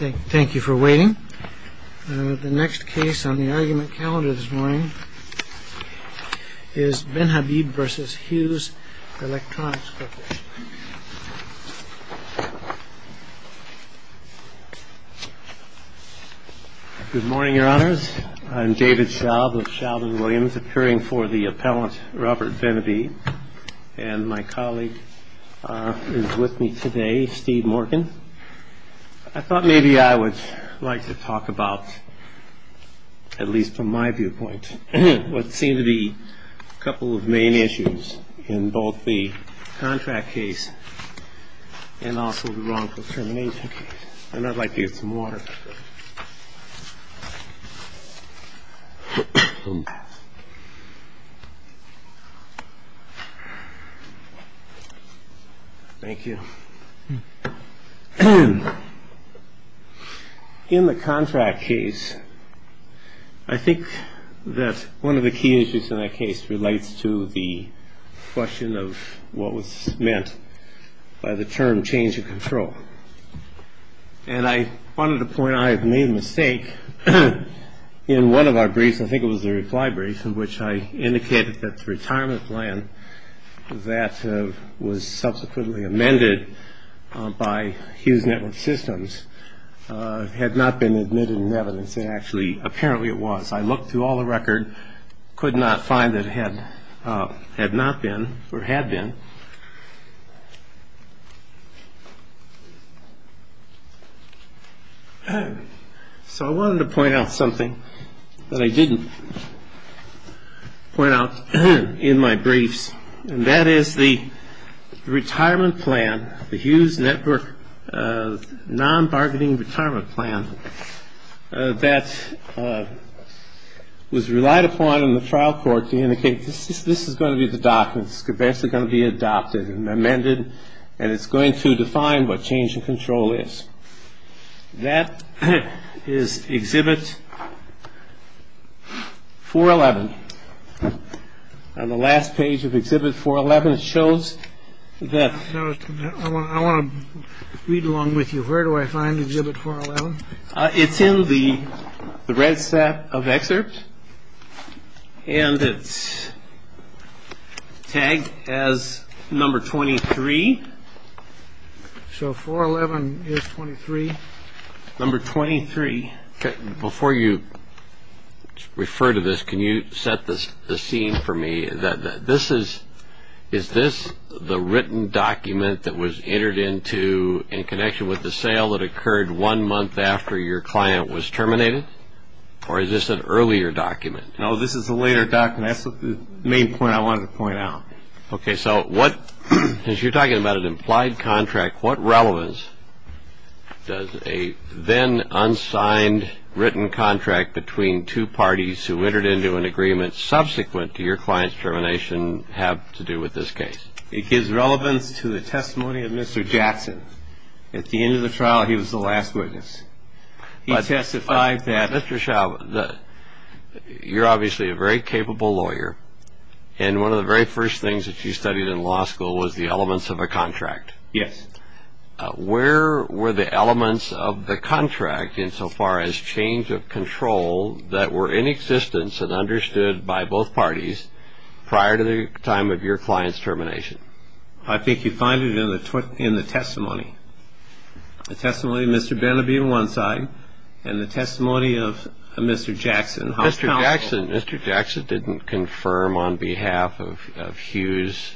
Thank you for waiting. The next case on the argument calendar this morning is Benhabib v. Hughes Electronics Corporation. Good morning, Your Honors. I'm David Schaub of Schaub & Williams, appearing for the appellant Robert Benhabib. And my colleague is with me today, Steve Morgan. I thought maybe I would like to talk about, at least from my viewpoint, what seem to be a couple of main issues in both the contract case and also the wrongful termination case. And I'd like to get some water. Thank you. In the contract case, I think that one of the key issues in that case relates to the question of what was meant by the term change of control. And I wanted to point out, I have made a mistake in one of our briefs. I think it was the reply brief in which I indicated that the retirement plan that was subsequently amended by Hughes Network Systems had not been admitted in evidence, and actually, apparently it was. I looked through all the record, could not find that it had not been or had been. So I wanted to point out something that I didn't point out in my briefs, and that is the retirement plan, the Hughes Network non-bargaining retirement plan, that was relied upon in the trial court to indicate this is going to be the document. It's basically going to be adopted and amended, and it's going to define what change of control is. That is Exhibit 411 on the last page of Exhibit 411. It shows that I want to read along with you. Where do I find Exhibit 411? It's in the red set of excerpts, and it's tagged as number 23. So 411 is 23? Number 23. Before you refer to this, can you set the scene for me? Is this the written document that was entered into in connection with the sale that occurred one month after your client was terminated, or is this an earlier document? No, this is a later document. That's the main point I wanted to point out. Okay, so as you're talking about an implied contract, what relevance does a then unsigned written contract between two parties who entered into an agreement subsequent to your client's termination have to do with this case? It gives relevance to the testimony of Mr. Jackson. At the end of the trial, he was the last witness. He testified that Mr. Shaw, you're obviously a very capable lawyer, and one of the very first things that you studied in law school was the elements of a contract. Yes. Where were the elements of the contract, insofar as change of control, that were in existence and understood by both parties prior to the time of your client's termination? I think you find it in the testimony. The testimony of Mr. Beneby on one side, and the testimony of Mr. Jackson. Mr. Jackson didn't confirm on behalf of Hughes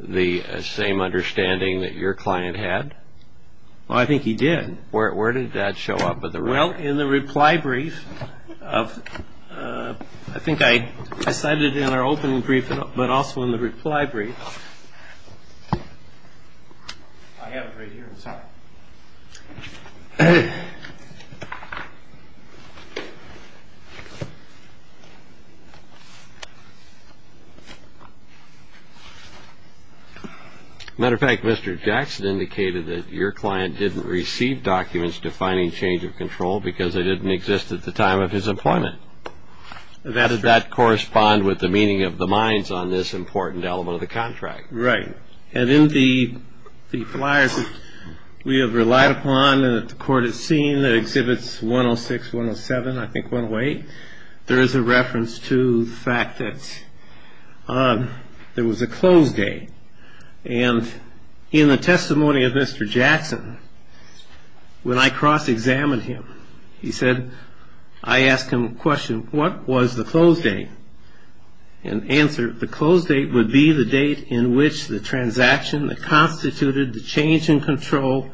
the same understanding that your client had? I think he did. Where did that show up? Well, in the reply brief. I think I cited it in our opening brief, but also in the reply brief. I have it right here inside. As a matter of fact, Mr. Jackson indicated that your client didn't receive documents defining change of control, because they didn't exist at the time of his employment. Does that correspond with the meaning of the minds on this important element of the contract? Right. And in the flyers that we have relied upon and that the court has seen, the exhibits 106, 107, I think 108, there is a reference to the fact that there was a close date. And in the testimony of Mr. Jackson, when I cross-examined him, he said, I asked him a question, what was the close date? And the answer, the close date would be the date in which the transaction that constituted the change in control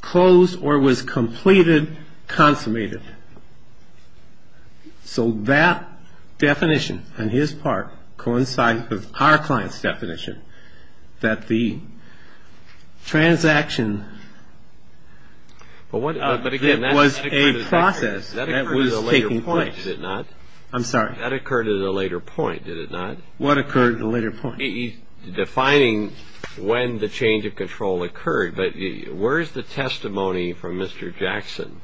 closed or was completed, consummated. So that definition on his part coincides with our client's definition, that the transaction was a process that was taking place. Is it not? I'm sorry. That occurred at a later point, did it not? What occurred at a later point? Defining when the change of control occurred. But where is the testimony from Mr. Jackson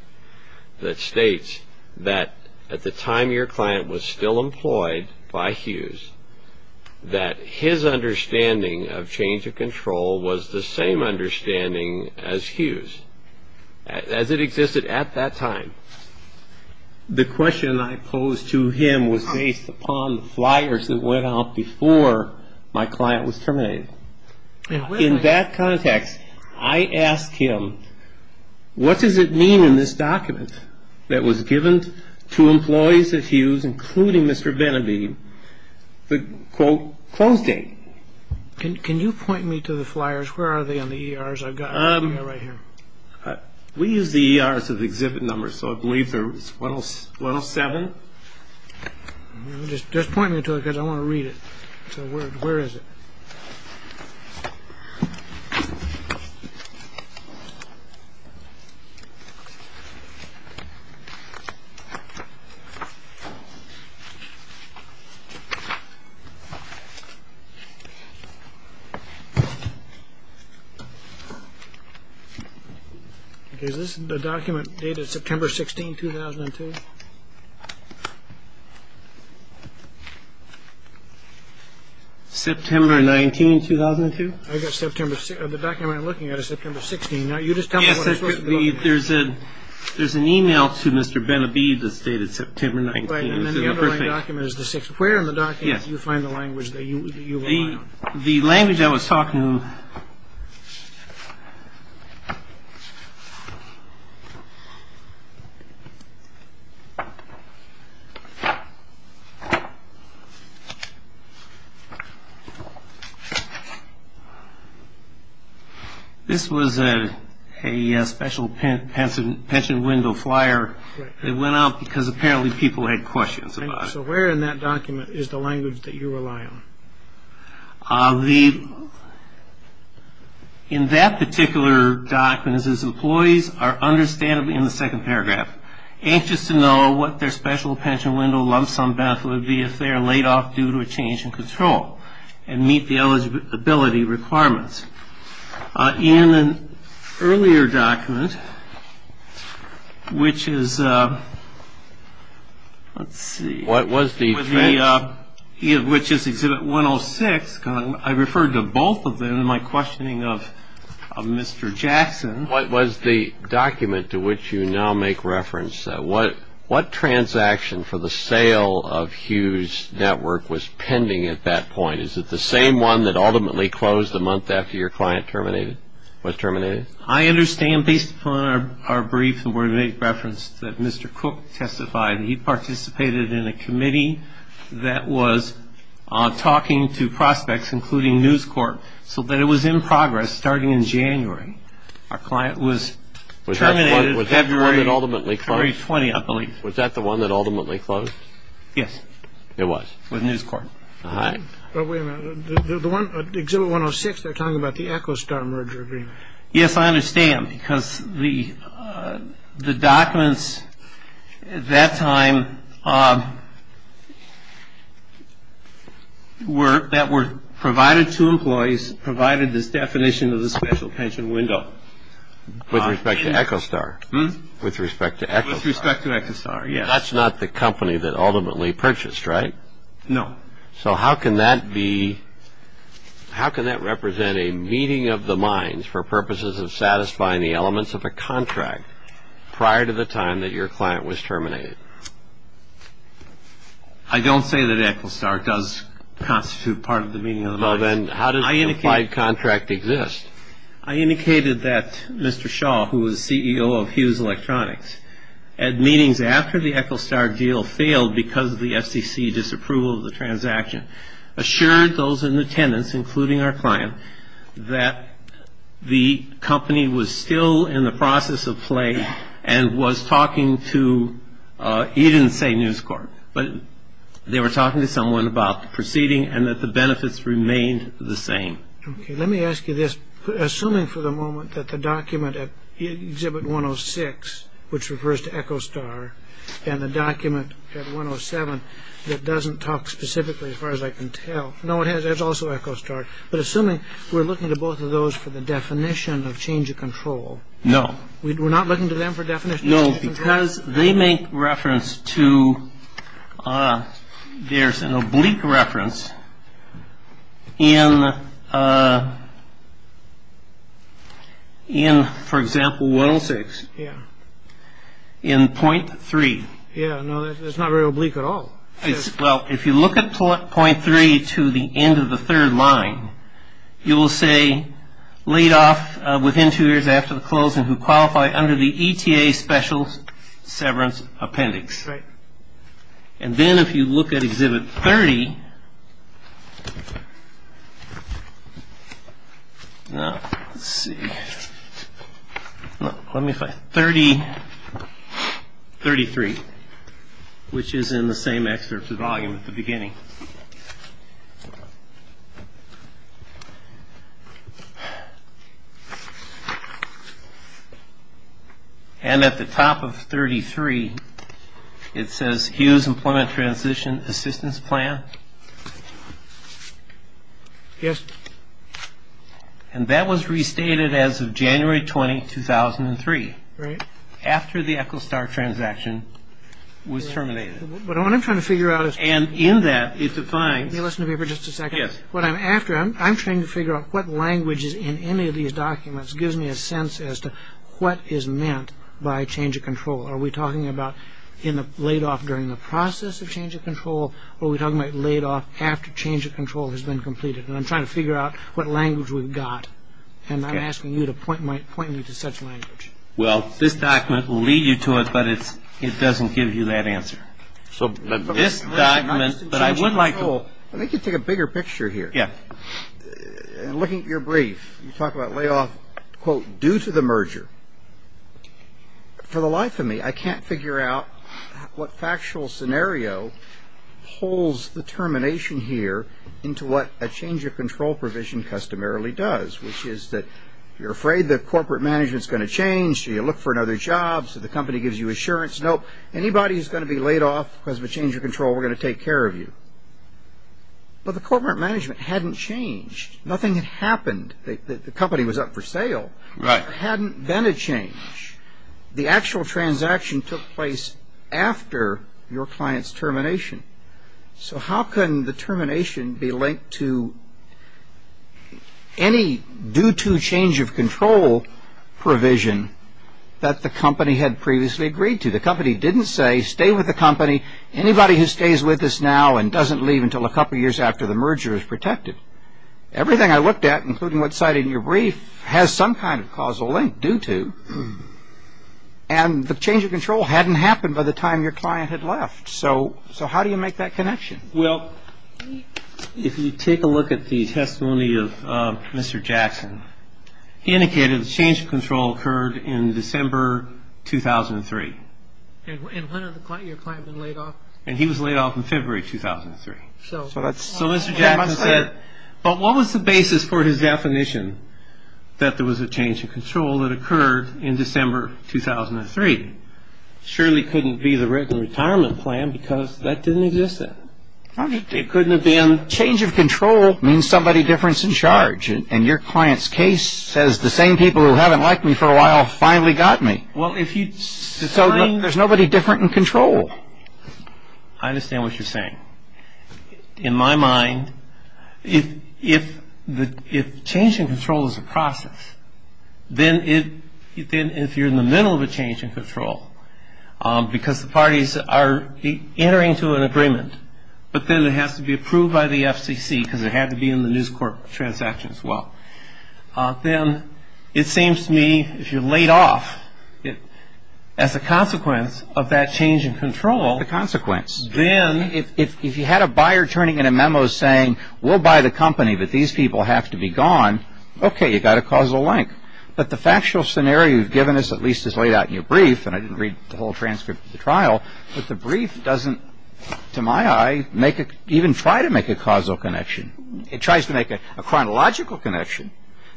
that states that at the time your client was still employed by Hughes, that his understanding of change of control was the same understanding as Hughes, as it existed at that time? The question I posed to him was based upon the flyers that went out before my client was terminated. In that context, I asked him, what does it mean in this document that was given to employees at Hughes, including Mr. Benneby, the, quote, close date? Can you point me to the flyers? Where are they on the ERs? I've got them right here. We use the ERs as exhibit numbers, so I believe they're 107. Just point me to it because I want to read it. So where is it? Is this the document dated September 16, 2002? September 19, 2002? The document I'm looking at is September 16. You just tell me what it's supposed to be. There's an e-mail to Mr. Benneby that's dated September 19. Right, and then the underlying document is the sixth. Where in the document do you find the language that you want? The language I was talking to him. This was a special pension window flyer that went out because apparently people had questions about it. So where in that document is the language that you rely on? In that particular document it says, employees are understandably, in the second paragraph, anxious to know what their special pension window lump sum benefit would be if they are laid off due to a change in control and meet the eligibility requirements. In an earlier document, which is Exhibit 106, I referred to both of them in my questioning of Mr. Jackson. What was the document to which you now make reference? What transaction for the sale of Hughes Network was pending at that point? Is it the same one that ultimately closed the month after your client was terminated? I understand, based upon our brief and where we make reference that Mr. Cook testified, he participated in a committee that was talking to prospects, including News Corp, so that it was in progress starting in January. Our client was terminated February 20, I believe. Was that the one that ultimately closed? Yes. It was? With News Corp. All right. But wait a minute. Exhibit 106, they're talking about the Echostar merger agreement. Yes, I understand, because the documents at that time that were provided to employees provided this definition of the special pension window. With respect to Echostar? With respect to Echostar. With respect to Echostar, yes. That's not the company that ultimately purchased, right? No. So how can that represent a meeting of the minds for purposes of satisfying the elements of a contract prior to the time that your client was terminated? I don't say that Echostar does constitute part of the meeting of the minds. Well, then how does the implied contract exist? I indicated that Mr. Shaw, who was CEO of Hughes Electronics, at meetings after the Echostar deal failed because of the SEC disapproval of the transaction, assured those in attendance, including our client, that the company was still in the process of play and was talking to, he didn't say News Corp., but they were talking to someone about the proceeding and that the benefits remained the same. Okay, let me ask you this. Assuming for the moment that the document at Exhibit 106, which refers to Echostar, and the document at 107 that doesn't talk specifically, as far as I can tell. No, it has also Echostar. But assuming we're looking to both of those for the definition of change of control. No. We're not looking to them for definition of change of control? Because they make reference to, there's an oblique reference in, for example, 106. Yeah. In point three. Yeah, no, that's not very oblique at all. Well, if you look at point three to the end of the third line, you will say, laid off within two years after the closing, who qualify under the ETA special severance appendix. Right. And then if you look at Exhibit 30. Let's see. Let me find it. 3033, which is in the same excerpt of the volume at the beginning. And at the top of 33, it says, Hughes Employment Transition Assistance Plan. Yes. And that was restated as of January 20, 2003. Right. After the Echostar transaction was terminated. But what I'm trying to figure out is. And in that, it defines. Let me listen to you for just a second. Yes. What I'm after, I'm trying to figure out what language is in any of these documents gives me a sense as to what is meant by change of control. Are we talking about in the laid off during the process of change of control, or are we talking about laid off after change of control has been completed? And I'm trying to figure out what language we've got. And I'm asking you to point me to such language. Well, this document will lead you to it, but it doesn't give you that answer. So this document. But I would like to. I think you take a bigger picture here. Yes. Looking at your brief, you talk about laid off, quote, due to the merger. For the life of me, I can't figure out what factual scenario holds the termination here into what a change of control provision customarily does, which is that you're afraid that corporate management is going to change, so you look for another job, so the company gives you assurance. Nope. Anybody who's going to be laid off because of a change of control, we're going to take care of you. But the corporate management hadn't changed. Nothing had happened. The company was up for sale. Right. There hadn't been a change. The actual transaction took place after your client's termination. So how can the termination be linked to any due to change of control provision that the company had previously agreed to? The company didn't say, stay with the company. Anybody who stays with us now and doesn't leave until a couple years after the merger is protected. Everything I looked at, including what's cited in your brief, has some kind of causal link due to. And the change of control hadn't happened by the time your client had left. So how do you make that connection? Well, if you take a look at the testimony of Mr. Jackson, he indicated a change of control occurred in December 2003. And when had your client been laid off? And he was laid off in February 2003. So Mr. Jackson said, but what was the basis for his definition that there was a change of control that occurred in December 2003? Surely it couldn't be the written retirement plan because that didn't exist then. It couldn't have been. Change of control means somebody different's in charge. And your client's case says the same people who haven't liked me for a while finally got me. Well, if you... There's nobody different in control. I understand what you're saying. In my mind, if change in control is a process, then if you're in the middle of a change in control, because the parties are entering into an agreement, but then it has to be approved by the FCC because it had to be in the News Corp transaction as well, then it seems to me if you're laid off as a consequence of that change in control... The consequence. Then... If you had a buyer turning in a memo saying, we'll buy the company, but these people have to be gone, okay, you've got a causal link. But the factual scenario you've given us at least is laid out in your brief, and I didn't read the whole transcript of the trial, but the brief doesn't, to my eye, even try to make a causal connection. It tries to make a chronological connection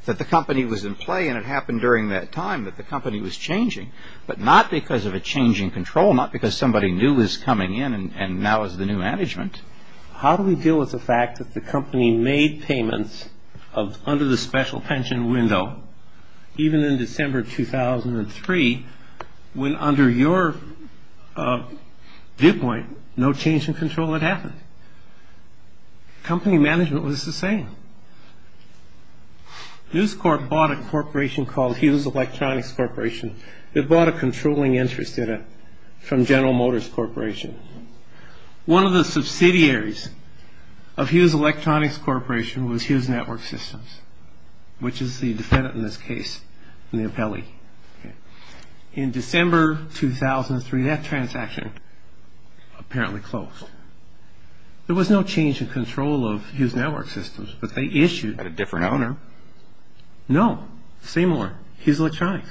that the company was in play and it happened during that time that the company was changing, but not because of a change in control, not because somebody new was coming in and now is the new management. How do we deal with the fact that the company made payments under the special pension window, even in December 2003, when under your viewpoint no change in control had happened? Company management was the same. News Corp bought a corporation called Hughes Electronics Corporation. They bought a controlling interest from General Motors Corporation. One of the subsidiaries of Hughes Electronics Corporation was Hughes Network Systems, which is the defendant in this case in the appellee. In December 2003, that transaction apparently closed. There was no change in control of Hughes Network Systems, but they issued... A different owner? No, same one, Hughes Electronics.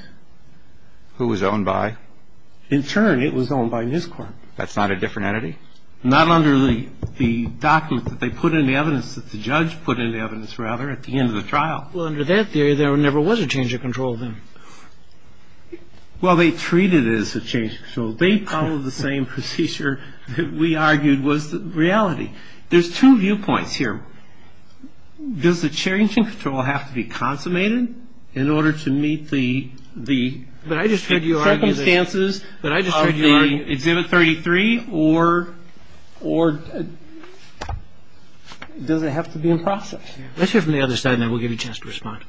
Who was owned by? In turn, it was owned by News Corp. That's not a different entity? Not under the document that they put in the evidence, that the judge put in the evidence, rather, at the end of the trial. Well, under that theory, there never was a change of control then. Well, they treated it as a change of control. They followed the same procedure that we argued was the reality. There's two viewpoints here. Does the change in control have to be consummated in order to meet the... ...circumstances of the Exhibit 33, or does it have to be in process? Let's hear from the other side, and then we'll give you a chance to respond.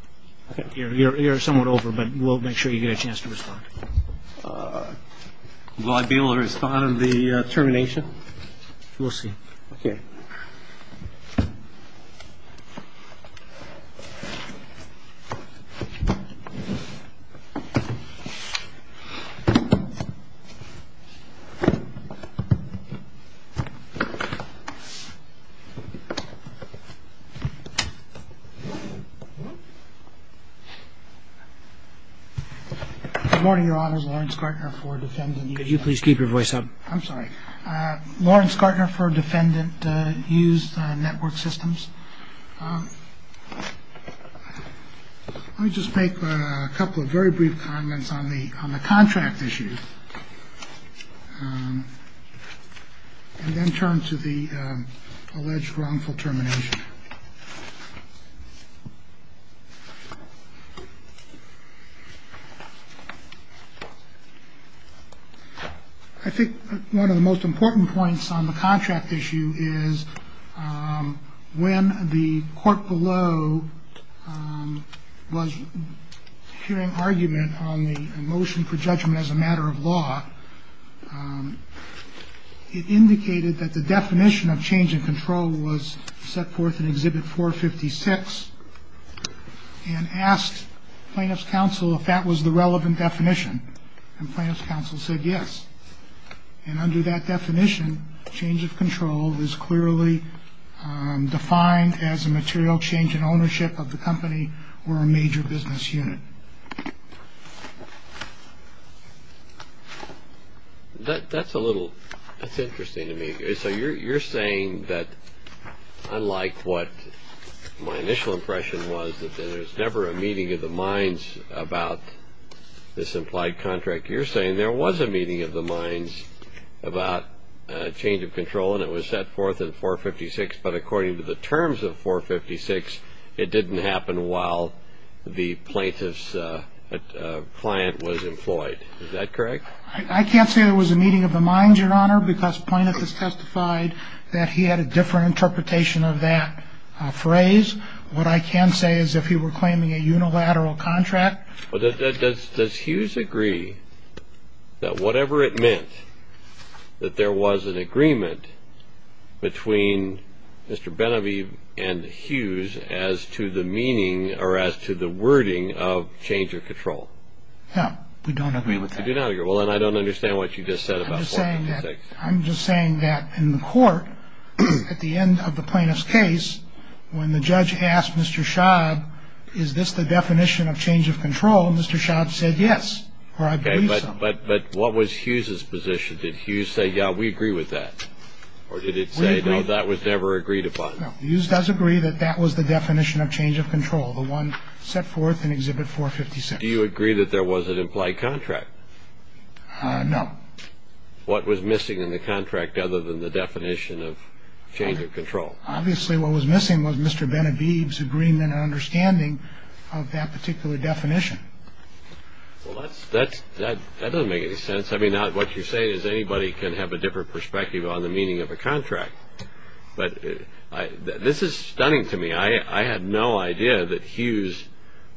You're somewhat over, but we'll make sure you get a chance to respond. Will I be able to respond on the termination? We'll see. Okay. Good morning, Your Honors. Lawrence Gartner for Defendant Use Network Systems. Could you please keep your voice up? I'm sorry. Lawrence Gartner for Defendant Use Network Systems. Let me just make a couple of very brief comments on the on the contract issue. And then turn to the alleged wrongful termination. I think one of the most important points on the contract issue is when the court below was hearing argument on the motion for judgment as a matter of law, it indicated that the definition of change in control was set forth in Exhibit 456 and asked Plaintiff's Counsel if that was the relevant definition. And Plaintiff's Counsel said yes. And under that definition, change of control is clearly defined as a material change in ownership of the company or a major business unit. That's interesting to me. So you're saying that unlike what my initial impression was that there's never a meeting of the minds about this implied contract, you're saying there was a meeting of the minds about change of control and it was set forth in 456, but according to the terms of 456, it didn't happen while the plaintiff's client was employed. Is that correct? I can't say there was a meeting of the minds, Your Honor, because plaintiff has testified that he had a different interpretation of that phrase. What I can say is if he were claiming a unilateral contract. Does Hughes agree that whatever it meant that there was an agreement between Mr. Benavieve and Hughes as to the meaning or as to the wording of change of control? No, we don't agree with that. You do not agree. Well, then I don't understand what you just said about 456. I'm just saying that in the court, at the end of the plaintiff's case, when the judge asked Mr. Schaub, is this the definition of change of control, Mr. Schaub said yes, or I believe so. But what was Hughes' position? Did Hughes say, yeah, we agree with that, or did it say, no, that was never agreed upon? No, Hughes does agree that that was the definition of change of control, the one set forth in Exhibit 456. Do you agree that there was an implied contract? No. What was missing in the contract other than the definition of change of control? Obviously, what was missing was Mr. Benavieve's agreement and understanding of that particular definition. Well, that doesn't make any sense. I mean, what you're saying is anybody can have a different perspective on the meaning of a contract. But this is stunning to me. I had no idea that Hughes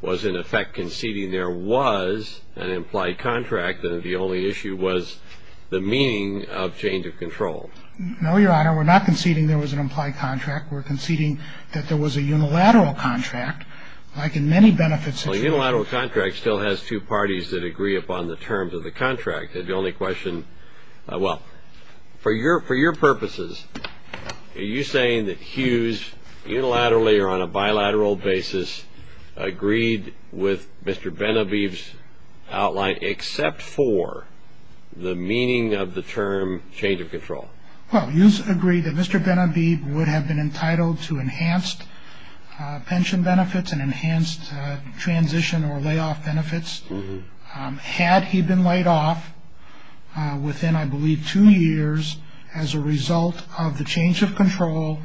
was in effect conceding there was an implied contract and that the only issue was the meaning of change of control. No, Your Honor, we're not conceding there was an implied contract. We're conceding that there was a unilateral contract, like in many benefits issues. Well, a unilateral contract still has two parties that agree upon the terms of the contract. The only question, well, for your purposes, are you saying that Hughes unilaterally or on a bilateral basis agreed with Mr. Benavieve's outline except for the meaning of the term change of control? Well, Hughes agreed that Mr. Benavieve would have been entitled to enhanced pension benefits and enhanced transition or layoff benefits. Had he been laid off within, I believe, two years as a result of the change of control,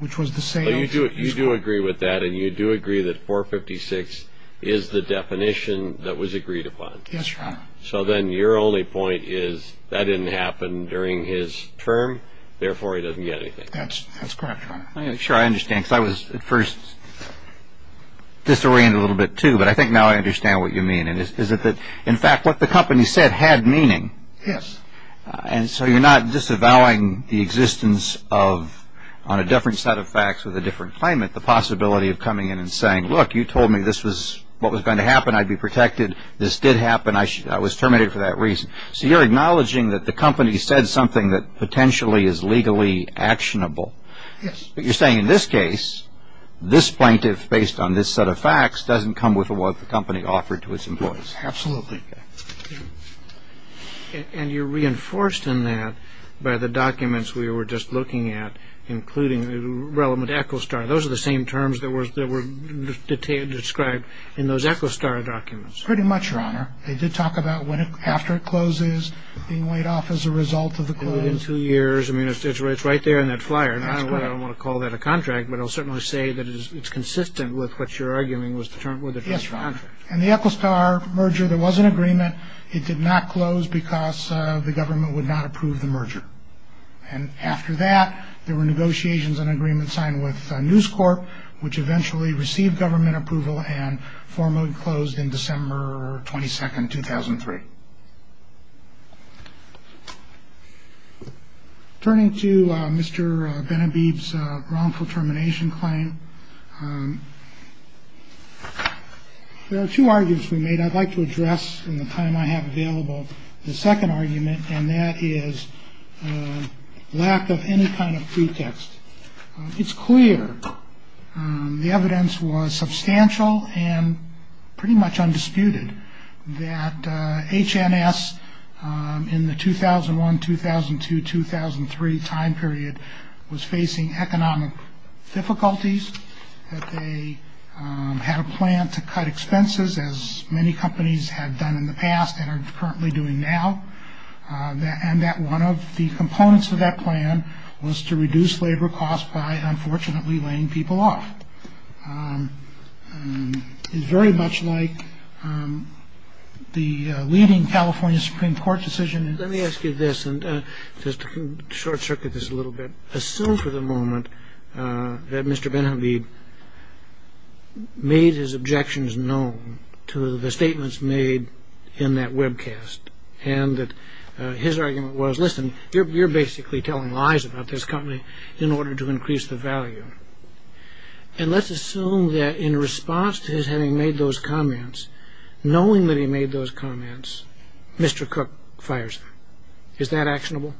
which was the sale of his property. You do agree with that, and you do agree that 456 is the definition that was agreed upon. Yes, Your Honor. So then your only point is that didn't happen during his term, therefore he doesn't get anything. That's correct, Your Honor. I'm not sure I understand because I was at first disoriented a little bit too, but I think now I understand what you mean. Is it that, in fact, what the company said had meaning? Yes. And so you're not disavowing the existence of, on a different set of facts with a different claimant, the possibility of coming in and saying, look, you told me this was what was going to happen. I'd be protected. This did happen. I was terminated for that reason. So you're acknowledging that the company said something that potentially is legally actionable. Yes. But you're saying in this case, this plaintiff, based on this set of facts, doesn't come with what the company offered to its employees. Absolutely. And you're reinforced in that by the documents we were just looking at, including the relevant Echostar. Those are the same terms that were described in those Echostar documents. Pretty much, Your Honor. They did talk about after it closes, being laid off as a result of the closing. In two years. I mean, it's right there in that flyer. I don't want to call that a contract, but I'll certainly say that it's consistent with what you're arguing was the term with the contract. And the Echostar merger, there was an agreement. It did not close because the government would not approve the merger. And after that, there were negotiations and agreements signed with News Corp, which eventually received government approval and formally closed in December 22nd, 2003. Turning to Mr. Benhabib's wrongful termination claim. There are two arguments we made I'd like to address in the time I have available. The second argument, and that is lack of any kind of pretext. It's clear. The evidence was substantial and pretty much undisputed that H.N.S. in the 2001, 2002, 2003 time period was facing economic difficulties. They had a plan to cut expenses, as many companies had done in the past and are currently doing now. And that one of the components of that plan was to reduce labor costs by unfortunately laying people off. It's very much like the leading California Supreme Court decision. Let me ask you this and just short circuit this a little bit. Assume for the moment that Mr. Benhabib made his objections known to the statements made in that webcast and that his argument was, listen, you're basically telling lies about this company in order to increase the value. And let's assume that in response to his having made those comments, knowing that he made those comments, Mr. Cook fires him. Is that actionable?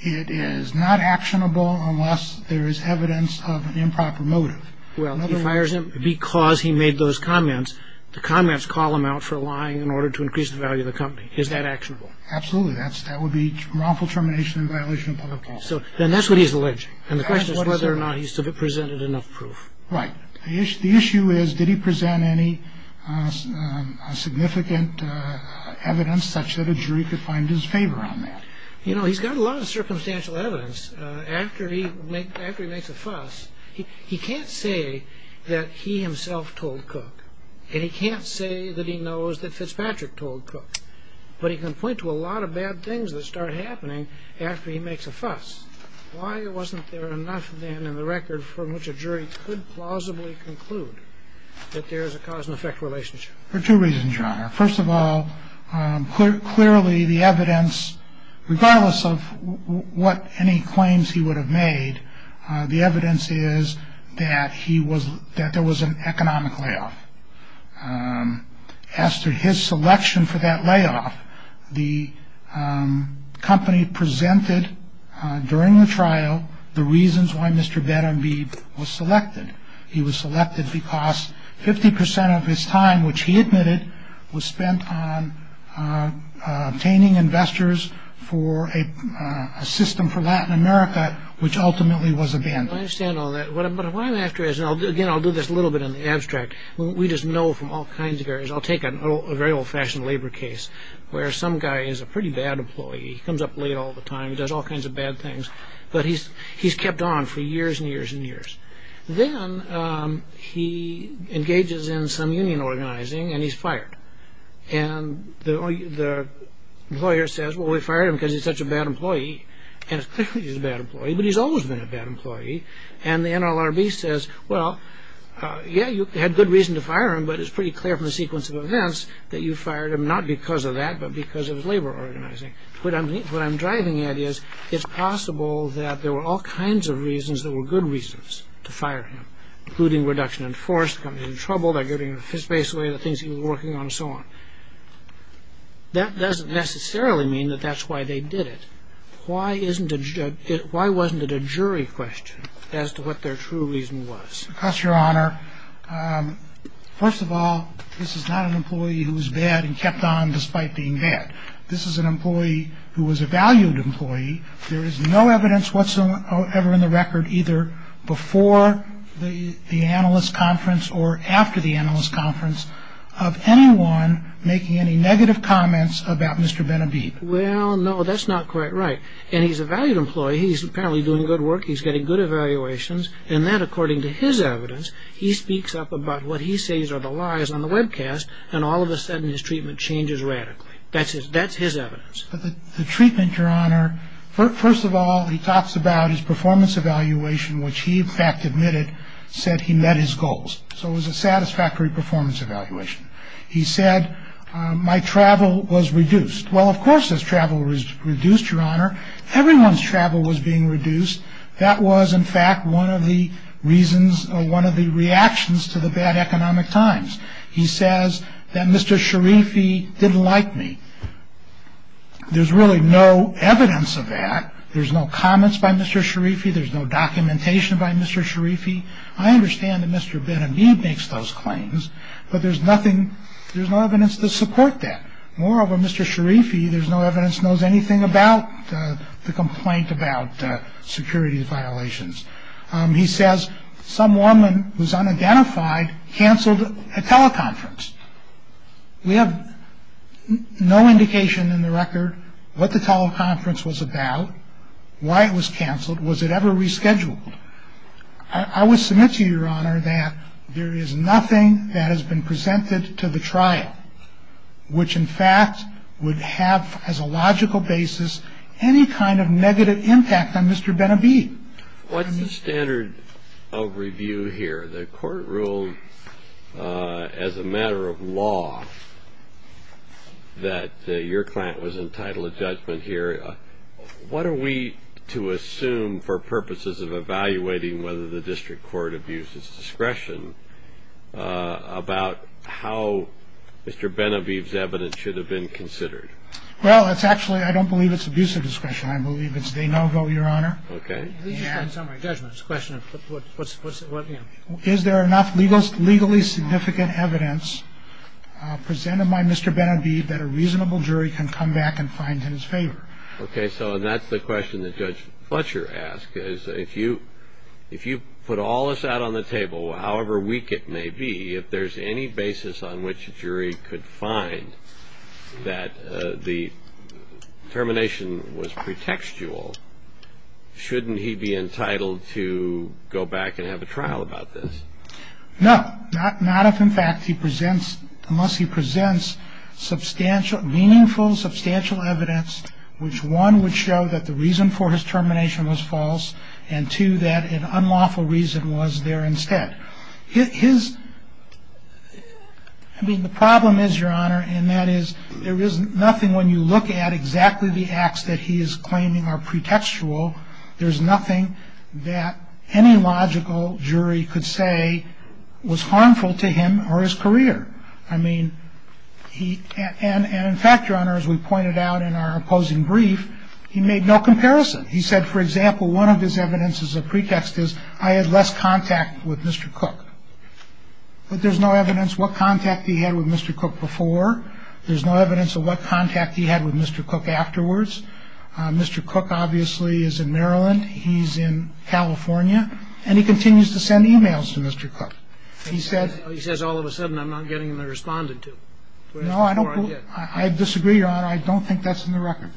It is not actionable unless there is evidence of an improper motive. Well, he fires him because he made those comments. The comments call him out for lying in order to increase the value of the company. Is that actionable? Absolutely. That would be wrongful termination and violation of public law. So then that's what he's alleging. And the question is whether or not he's presented enough proof. Right. The issue is, did he present any significant evidence such that a jury could find his favor on that? You know, he's got a lot of circumstantial evidence. After he makes a fuss, he can't say that he himself told Cook. And he can't say that he knows that Fitzpatrick told Cook. But he can point to a lot of bad things that start happening after he makes a fuss. Why wasn't there enough then in the record from which a jury could plausibly conclude that there is a cause and effect relationship? For two reasons, John. First of all, clearly the evidence, regardless of what any claims he would have made, the evidence is that he was that there was an economic layoff. As to his selection for that layoff, the company presented during the trial the reasons why Mr. Badenby was selected. He was selected because 50 percent of his time, which he admitted, was spent on obtaining investors for a system for Latin America, which ultimately was abandoned. I understand all that. But what I'm after is, again, I'll do this a little bit in the abstract. We just know from all kinds of areas. I'll take a very old-fashioned labor case where some guy is a pretty bad employee. He comes up late all the time. He does all kinds of bad things. But he's kept on for years and years and years. Then he engages in some union organizing, and he's fired. And the lawyer says, well, we fired him because he's such a bad employee. And it's clear that he's a bad employee, but he's always been a bad employee. And the NLRB says, well, yeah, you had good reason to fire him, but it's pretty clear from the sequence of events that you fired him, not because of that, but because of his labor organizing. What I'm driving at is, it's possible that there were all kinds of reasons that were good reasons to fire him, including reduction in force, coming into trouble, they're giving his face away, the things he was working on, and so on. That doesn't necessarily mean that that's why they did it. Why wasn't it a jury question as to what their true reason was? Because, Your Honor, first of all, this is not an employee who was bad and kept on despite being bad. This is an employee who was a valued employee. There is no evidence whatsoever in the record, either before the analyst conference or after the analyst conference, of anyone making any negative comments about Mr. Benhabib. Well, no, that's not quite right. And he's a valued employee. He's apparently doing good work. He's getting good evaluations. And then, according to his evidence, he speaks up about what he says are the lies on the webcast, and all of a sudden his treatment changes radically. That's his evidence. The treatment, Your Honor, first of all, he talks about his performance evaluation, which he, in fact, admitted said he met his goals. So it was a satisfactory performance evaluation. He said, my travel was reduced. Well, of course his travel was reduced, Your Honor. Everyone's travel was being reduced. That was, in fact, one of the reasons or one of the reactions to the bad economic times. He says that Mr. Sharifi didn't like me. There's really no evidence of that. There's no comments by Mr. Sharifi. There's no documentation by Mr. Sharifi. I understand that Mr. Benhabib makes those claims, but there's nothing, there's no evidence to support that. Moreover, Mr. Sharifi, there's no evidence, knows anything about the complaint about security violations. He says some woman who's unidentified canceled a teleconference. We have no indication in the record what the teleconference was about, why it was canceled, was it ever rescheduled. I would submit to you, Your Honor, that there is nothing that has been presented to the trial, which, in fact, would have, as a logical basis, any kind of negative impact on Mr. Benhabib. What's the standard of review here? The court ruled as a matter of law that your client was entitled to judgment here. What are we to assume for purposes of evaluating whether the district court abuses discretion about how Mr. Benhabib's evidence should have been considered? Well, it's actually, I don't believe it's abuse of discretion. Okay. In summary, judgment is a question of what's, you know. Is there enough legally significant evidence presented by Mr. Benhabib that a reasonable jury can come back and find in his favor? Okay, so that's the question that Judge Fletcher asked, is if you put all of that on the table, however weak it may be, if there's any basis on which a jury could find that the termination was pretextual, shouldn't he be entitled to go back and have a trial about this? No, not if, in fact, he presents, unless he presents substantial, meaningful, substantial evidence, which, one, would show that the reason for his termination was false, and, two, that an unlawful reason was there instead. His, I mean, the problem is, Your Honor, and that is there is nothing when you look at exactly the acts that he is claiming are pretextual, there's nothing that any logical jury could say was harmful to him or his career. I mean, he, and in fact, Your Honor, as we pointed out in our opposing brief, he made no comparison. He said, for example, one of his evidences of pretext is, I had less contact with Mr. Cook. But there's no evidence what contact he had with Mr. Cook before. There's no evidence of what contact he had with Mr. Cook afterwards. Mr. Cook obviously is in Maryland. He's in California. And he continues to send e-mails to Mr. Cook. He says, all of a sudden, I'm not getting the respondent to. No, I disagree, Your Honor. I don't think that's in the record.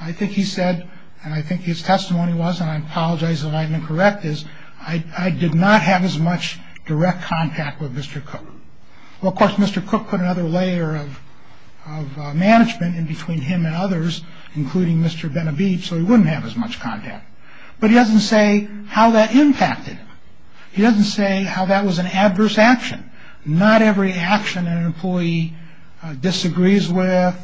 I think he said, and I think his testimony was, and I apologize if I'm incorrect, is, I did not have as much direct contact with Mr. Cook. Well, of course, Mr. Cook put another layer of management in between him and others, including Mr. Benavides, so he wouldn't have as much contact. But he doesn't say how that impacted him. He doesn't say how that was an adverse action. Not every action an employee disagrees with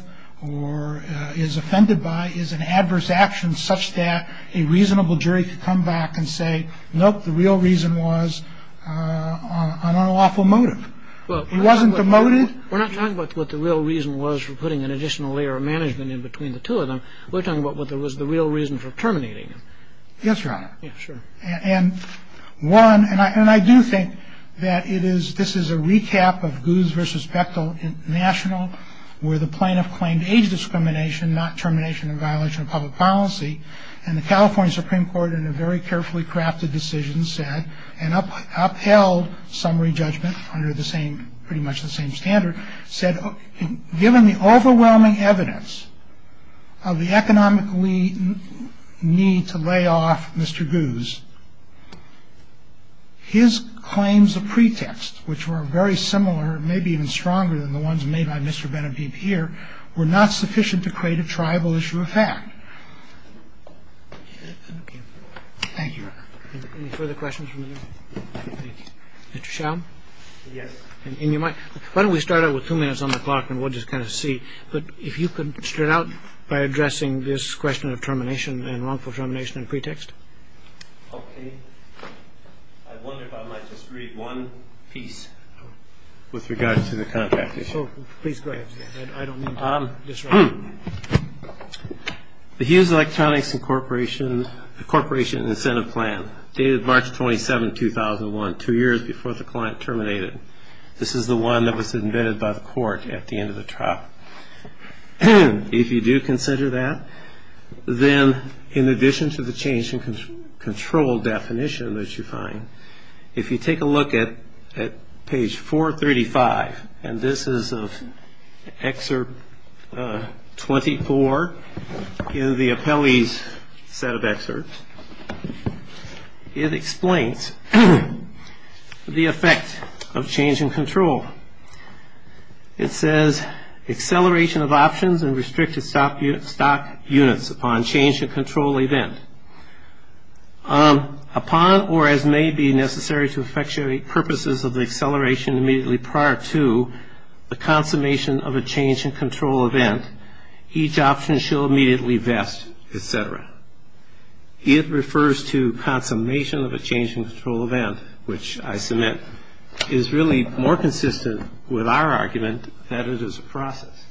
or is offended by is an adverse action such that a reasonable jury can come back and say, nope, the real reason was an unlawful motive. He wasn't demoted. We're not talking about what the real reason was for putting an additional layer of management in between the two of them. We're talking about what was the real reason for terminating him. Yes, Your Honor. Yeah, sure. And one, and I do think that it is, this is a recap of Goose versus Bechtel National, where the plaintiff claimed age discrimination, not termination and violation of public policy. And the California Supreme Court, in a very carefully crafted decision, said, and upheld summary judgment under the same, pretty much the same standard, said, given the overwhelming evidence of the economic need to lay off Mr. Goose, his claims of pretext, which were very similar, maybe even stronger than the ones made by Mr. Benhabib here, were not sufficient to create a tribal issue of fact. Thank you, Your Honor. Any further questions from the panel? Thank you. Mr. Schaum? Yes. Why don't we start out with two minutes on the clock, and we'll just kind of see. But if you could start out by addressing this question of termination and wrongful termination and pretext. Okay. I wonder if I might just read one piece with regard to the contract issue. Please go ahead. I don't mean to disrupt. The Hughes Electronics Corporation Incentive Plan, dated March 27, 2001, two years before the client terminated. This is the one that was admitted by the court at the end of the trial. If you do consider that, then in addition to the change in control definition that you find, if you take a look at page 435, and this is Excerpt 24 in the appellee's set of excerpts, it explains the effect of change in control. It says, acceleration of options and restricted stock units upon change in control event. Upon or as may be necessary to effectuate purposes of the acceleration immediately prior to the consummation of a change in control event, each option shall immediately vest, et cetera. It refers to consummation of a change in control event, which I submit is really more consistent with our argument that it is a process.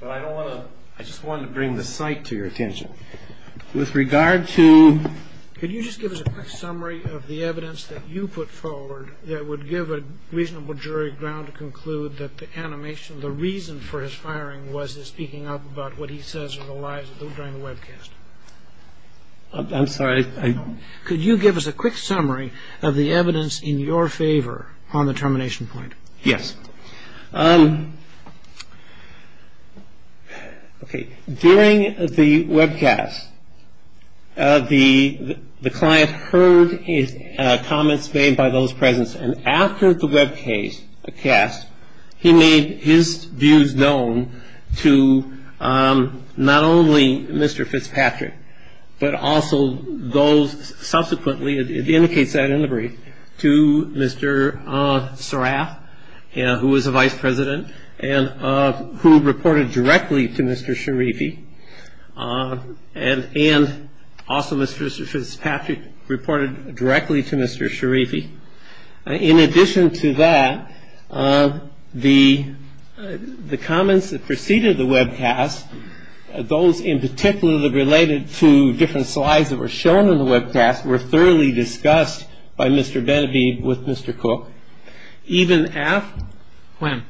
But I don't want to – I just wanted to bring the site to your attention. With regard to – Could you just give us a quick summary of the evidence that you put forward that would give a reasonable jury ground to conclude that the animation, the reason for his firing, was his speaking up about what he says are the lies during the webcast? I'm sorry, I – Could you give us a quick summary of the evidence in your favor on the termination point? Yes. Okay. During the webcast, the client heard his comments made by those present, and after the webcast, he made his views known to not only Mr. Fitzpatrick, but also those subsequently – it indicates that in the brief – to Mr. Seraf, who was the vice president, and who reported directly to Mr. Sharifi, and also Mr. Fitzpatrick reported directly to Mr. Sharifi. In addition to that, the comments that preceded the webcast, those in particular that related to different slides that were shown in the webcast, were thoroughly discussed by Mr. Benebe with Mr. Cook. Even after – When?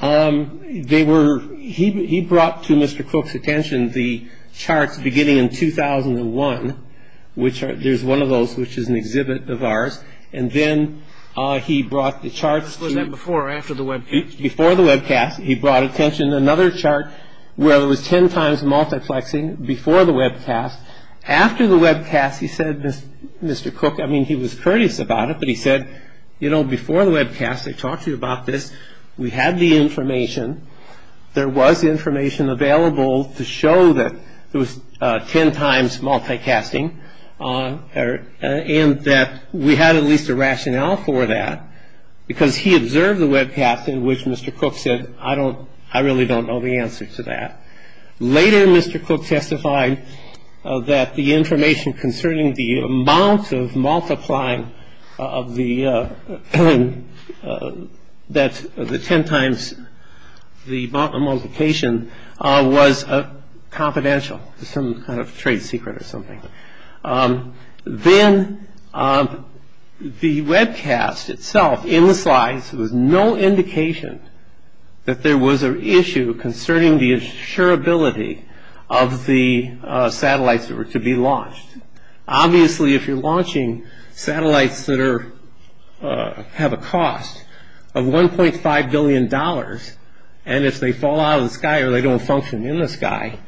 They were – he brought to Mr. Cook's attention the charts beginning in 2001, which there's one of those which is an exhibit of ours, and then he brought the charts to – Was that before or after the webcast? Before the webcast, he brought attention to another chart where it was ten times multiplexing before the webcast. After the webcast, he said, Mr. Cook – I mean, he was courteous about it, but he said, you know, before the webcast, I talked to you about this. We had the information. There was information available to show that it was ten times multicasting, and that we had at least a rationale for that, because he observed the webcast in which Mr. Cook said, I don't – I really don't know the answer to that. Later, Mr. Cook testified that the information concerning the amount of multiplying of the – that the ten times the multiplication was confidential, some kind of trade secret or something. Then the webcast itself, in the slides, there was no indication that there was an issue concerning the insurability of the satellites that were to be launched. Obviously, if you're launching satellites that are – have a cost of $1.5 billion, and if they fall out of the sky or they don't function in the sky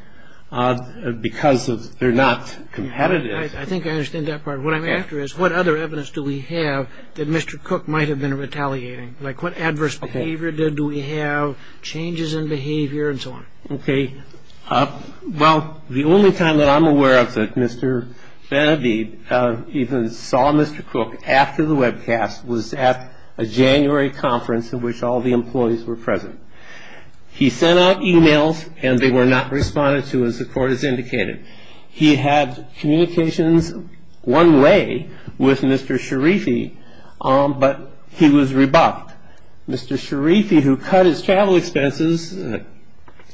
because they're not competitive – I think I understand that part. What I'm after is what other evidence do we have that Mr. Cook might have been retaliating? Like, what adverse behavior did we have, changes in behavior, and so on? Okay. Well, the only time that I'm aware of that Mr. Benavide even saw Mr. Cook after the webcast was at a January conference in which all the employees were present. He sent out emails, and they were not responded to, as the court has indicated. He had communications one way with Mr. Sharifi, but he was rebuffed. Mr. Sharifi, who cut his travel expenses,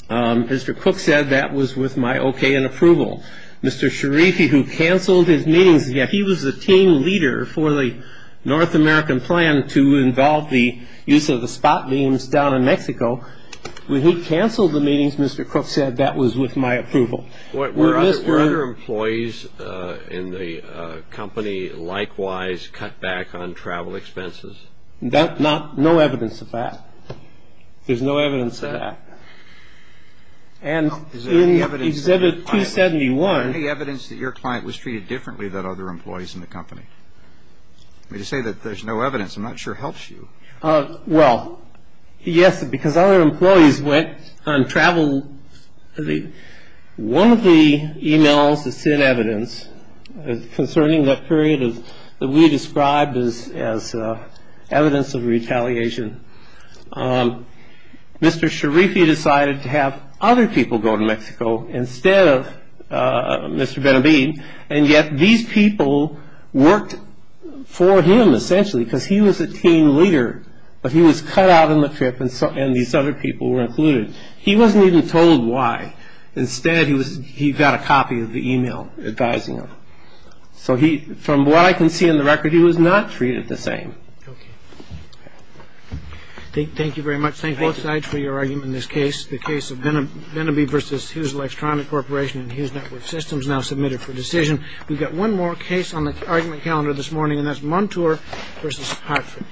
Mr. Cook said, that was with my okay and approval. Mr. Sharifi, who canceled his meetings – He was the team leader for the North American plan to involve the use of the spot beams down in Mexico. When he canceled the meetings, Mr. Cook said, that was with my approval. Were other employees in the company likewise cut back on travel expenses? No evidence of that. There's no evidence of that. And in Exhibit 271 – You say that there's no evidence. I'm not sure it helps you. Well, yes, because other employees went on travel. One of the emails that sent evidence concerning that period that we described as evidence of retaliation, Mr. Sharifi decided to have other people go to Mexico instead of Mr. Benavide, and yet these people worked for him essentially because he was a team leader, but he was cut out on the trip and these other people were included. He wasn't even told why. Instead, he got a copy of the email advising him. So from what I can see in the record, he was not treated the same. Okay. Thank you very much. Thank both sides for your argument in this case, the case of Benavide v. Hughes Electronic Corporation and Hughes Network Systems, now submitted for decision. We've got one more case on the argument calendar this morning, and that's Montour v. Hartford.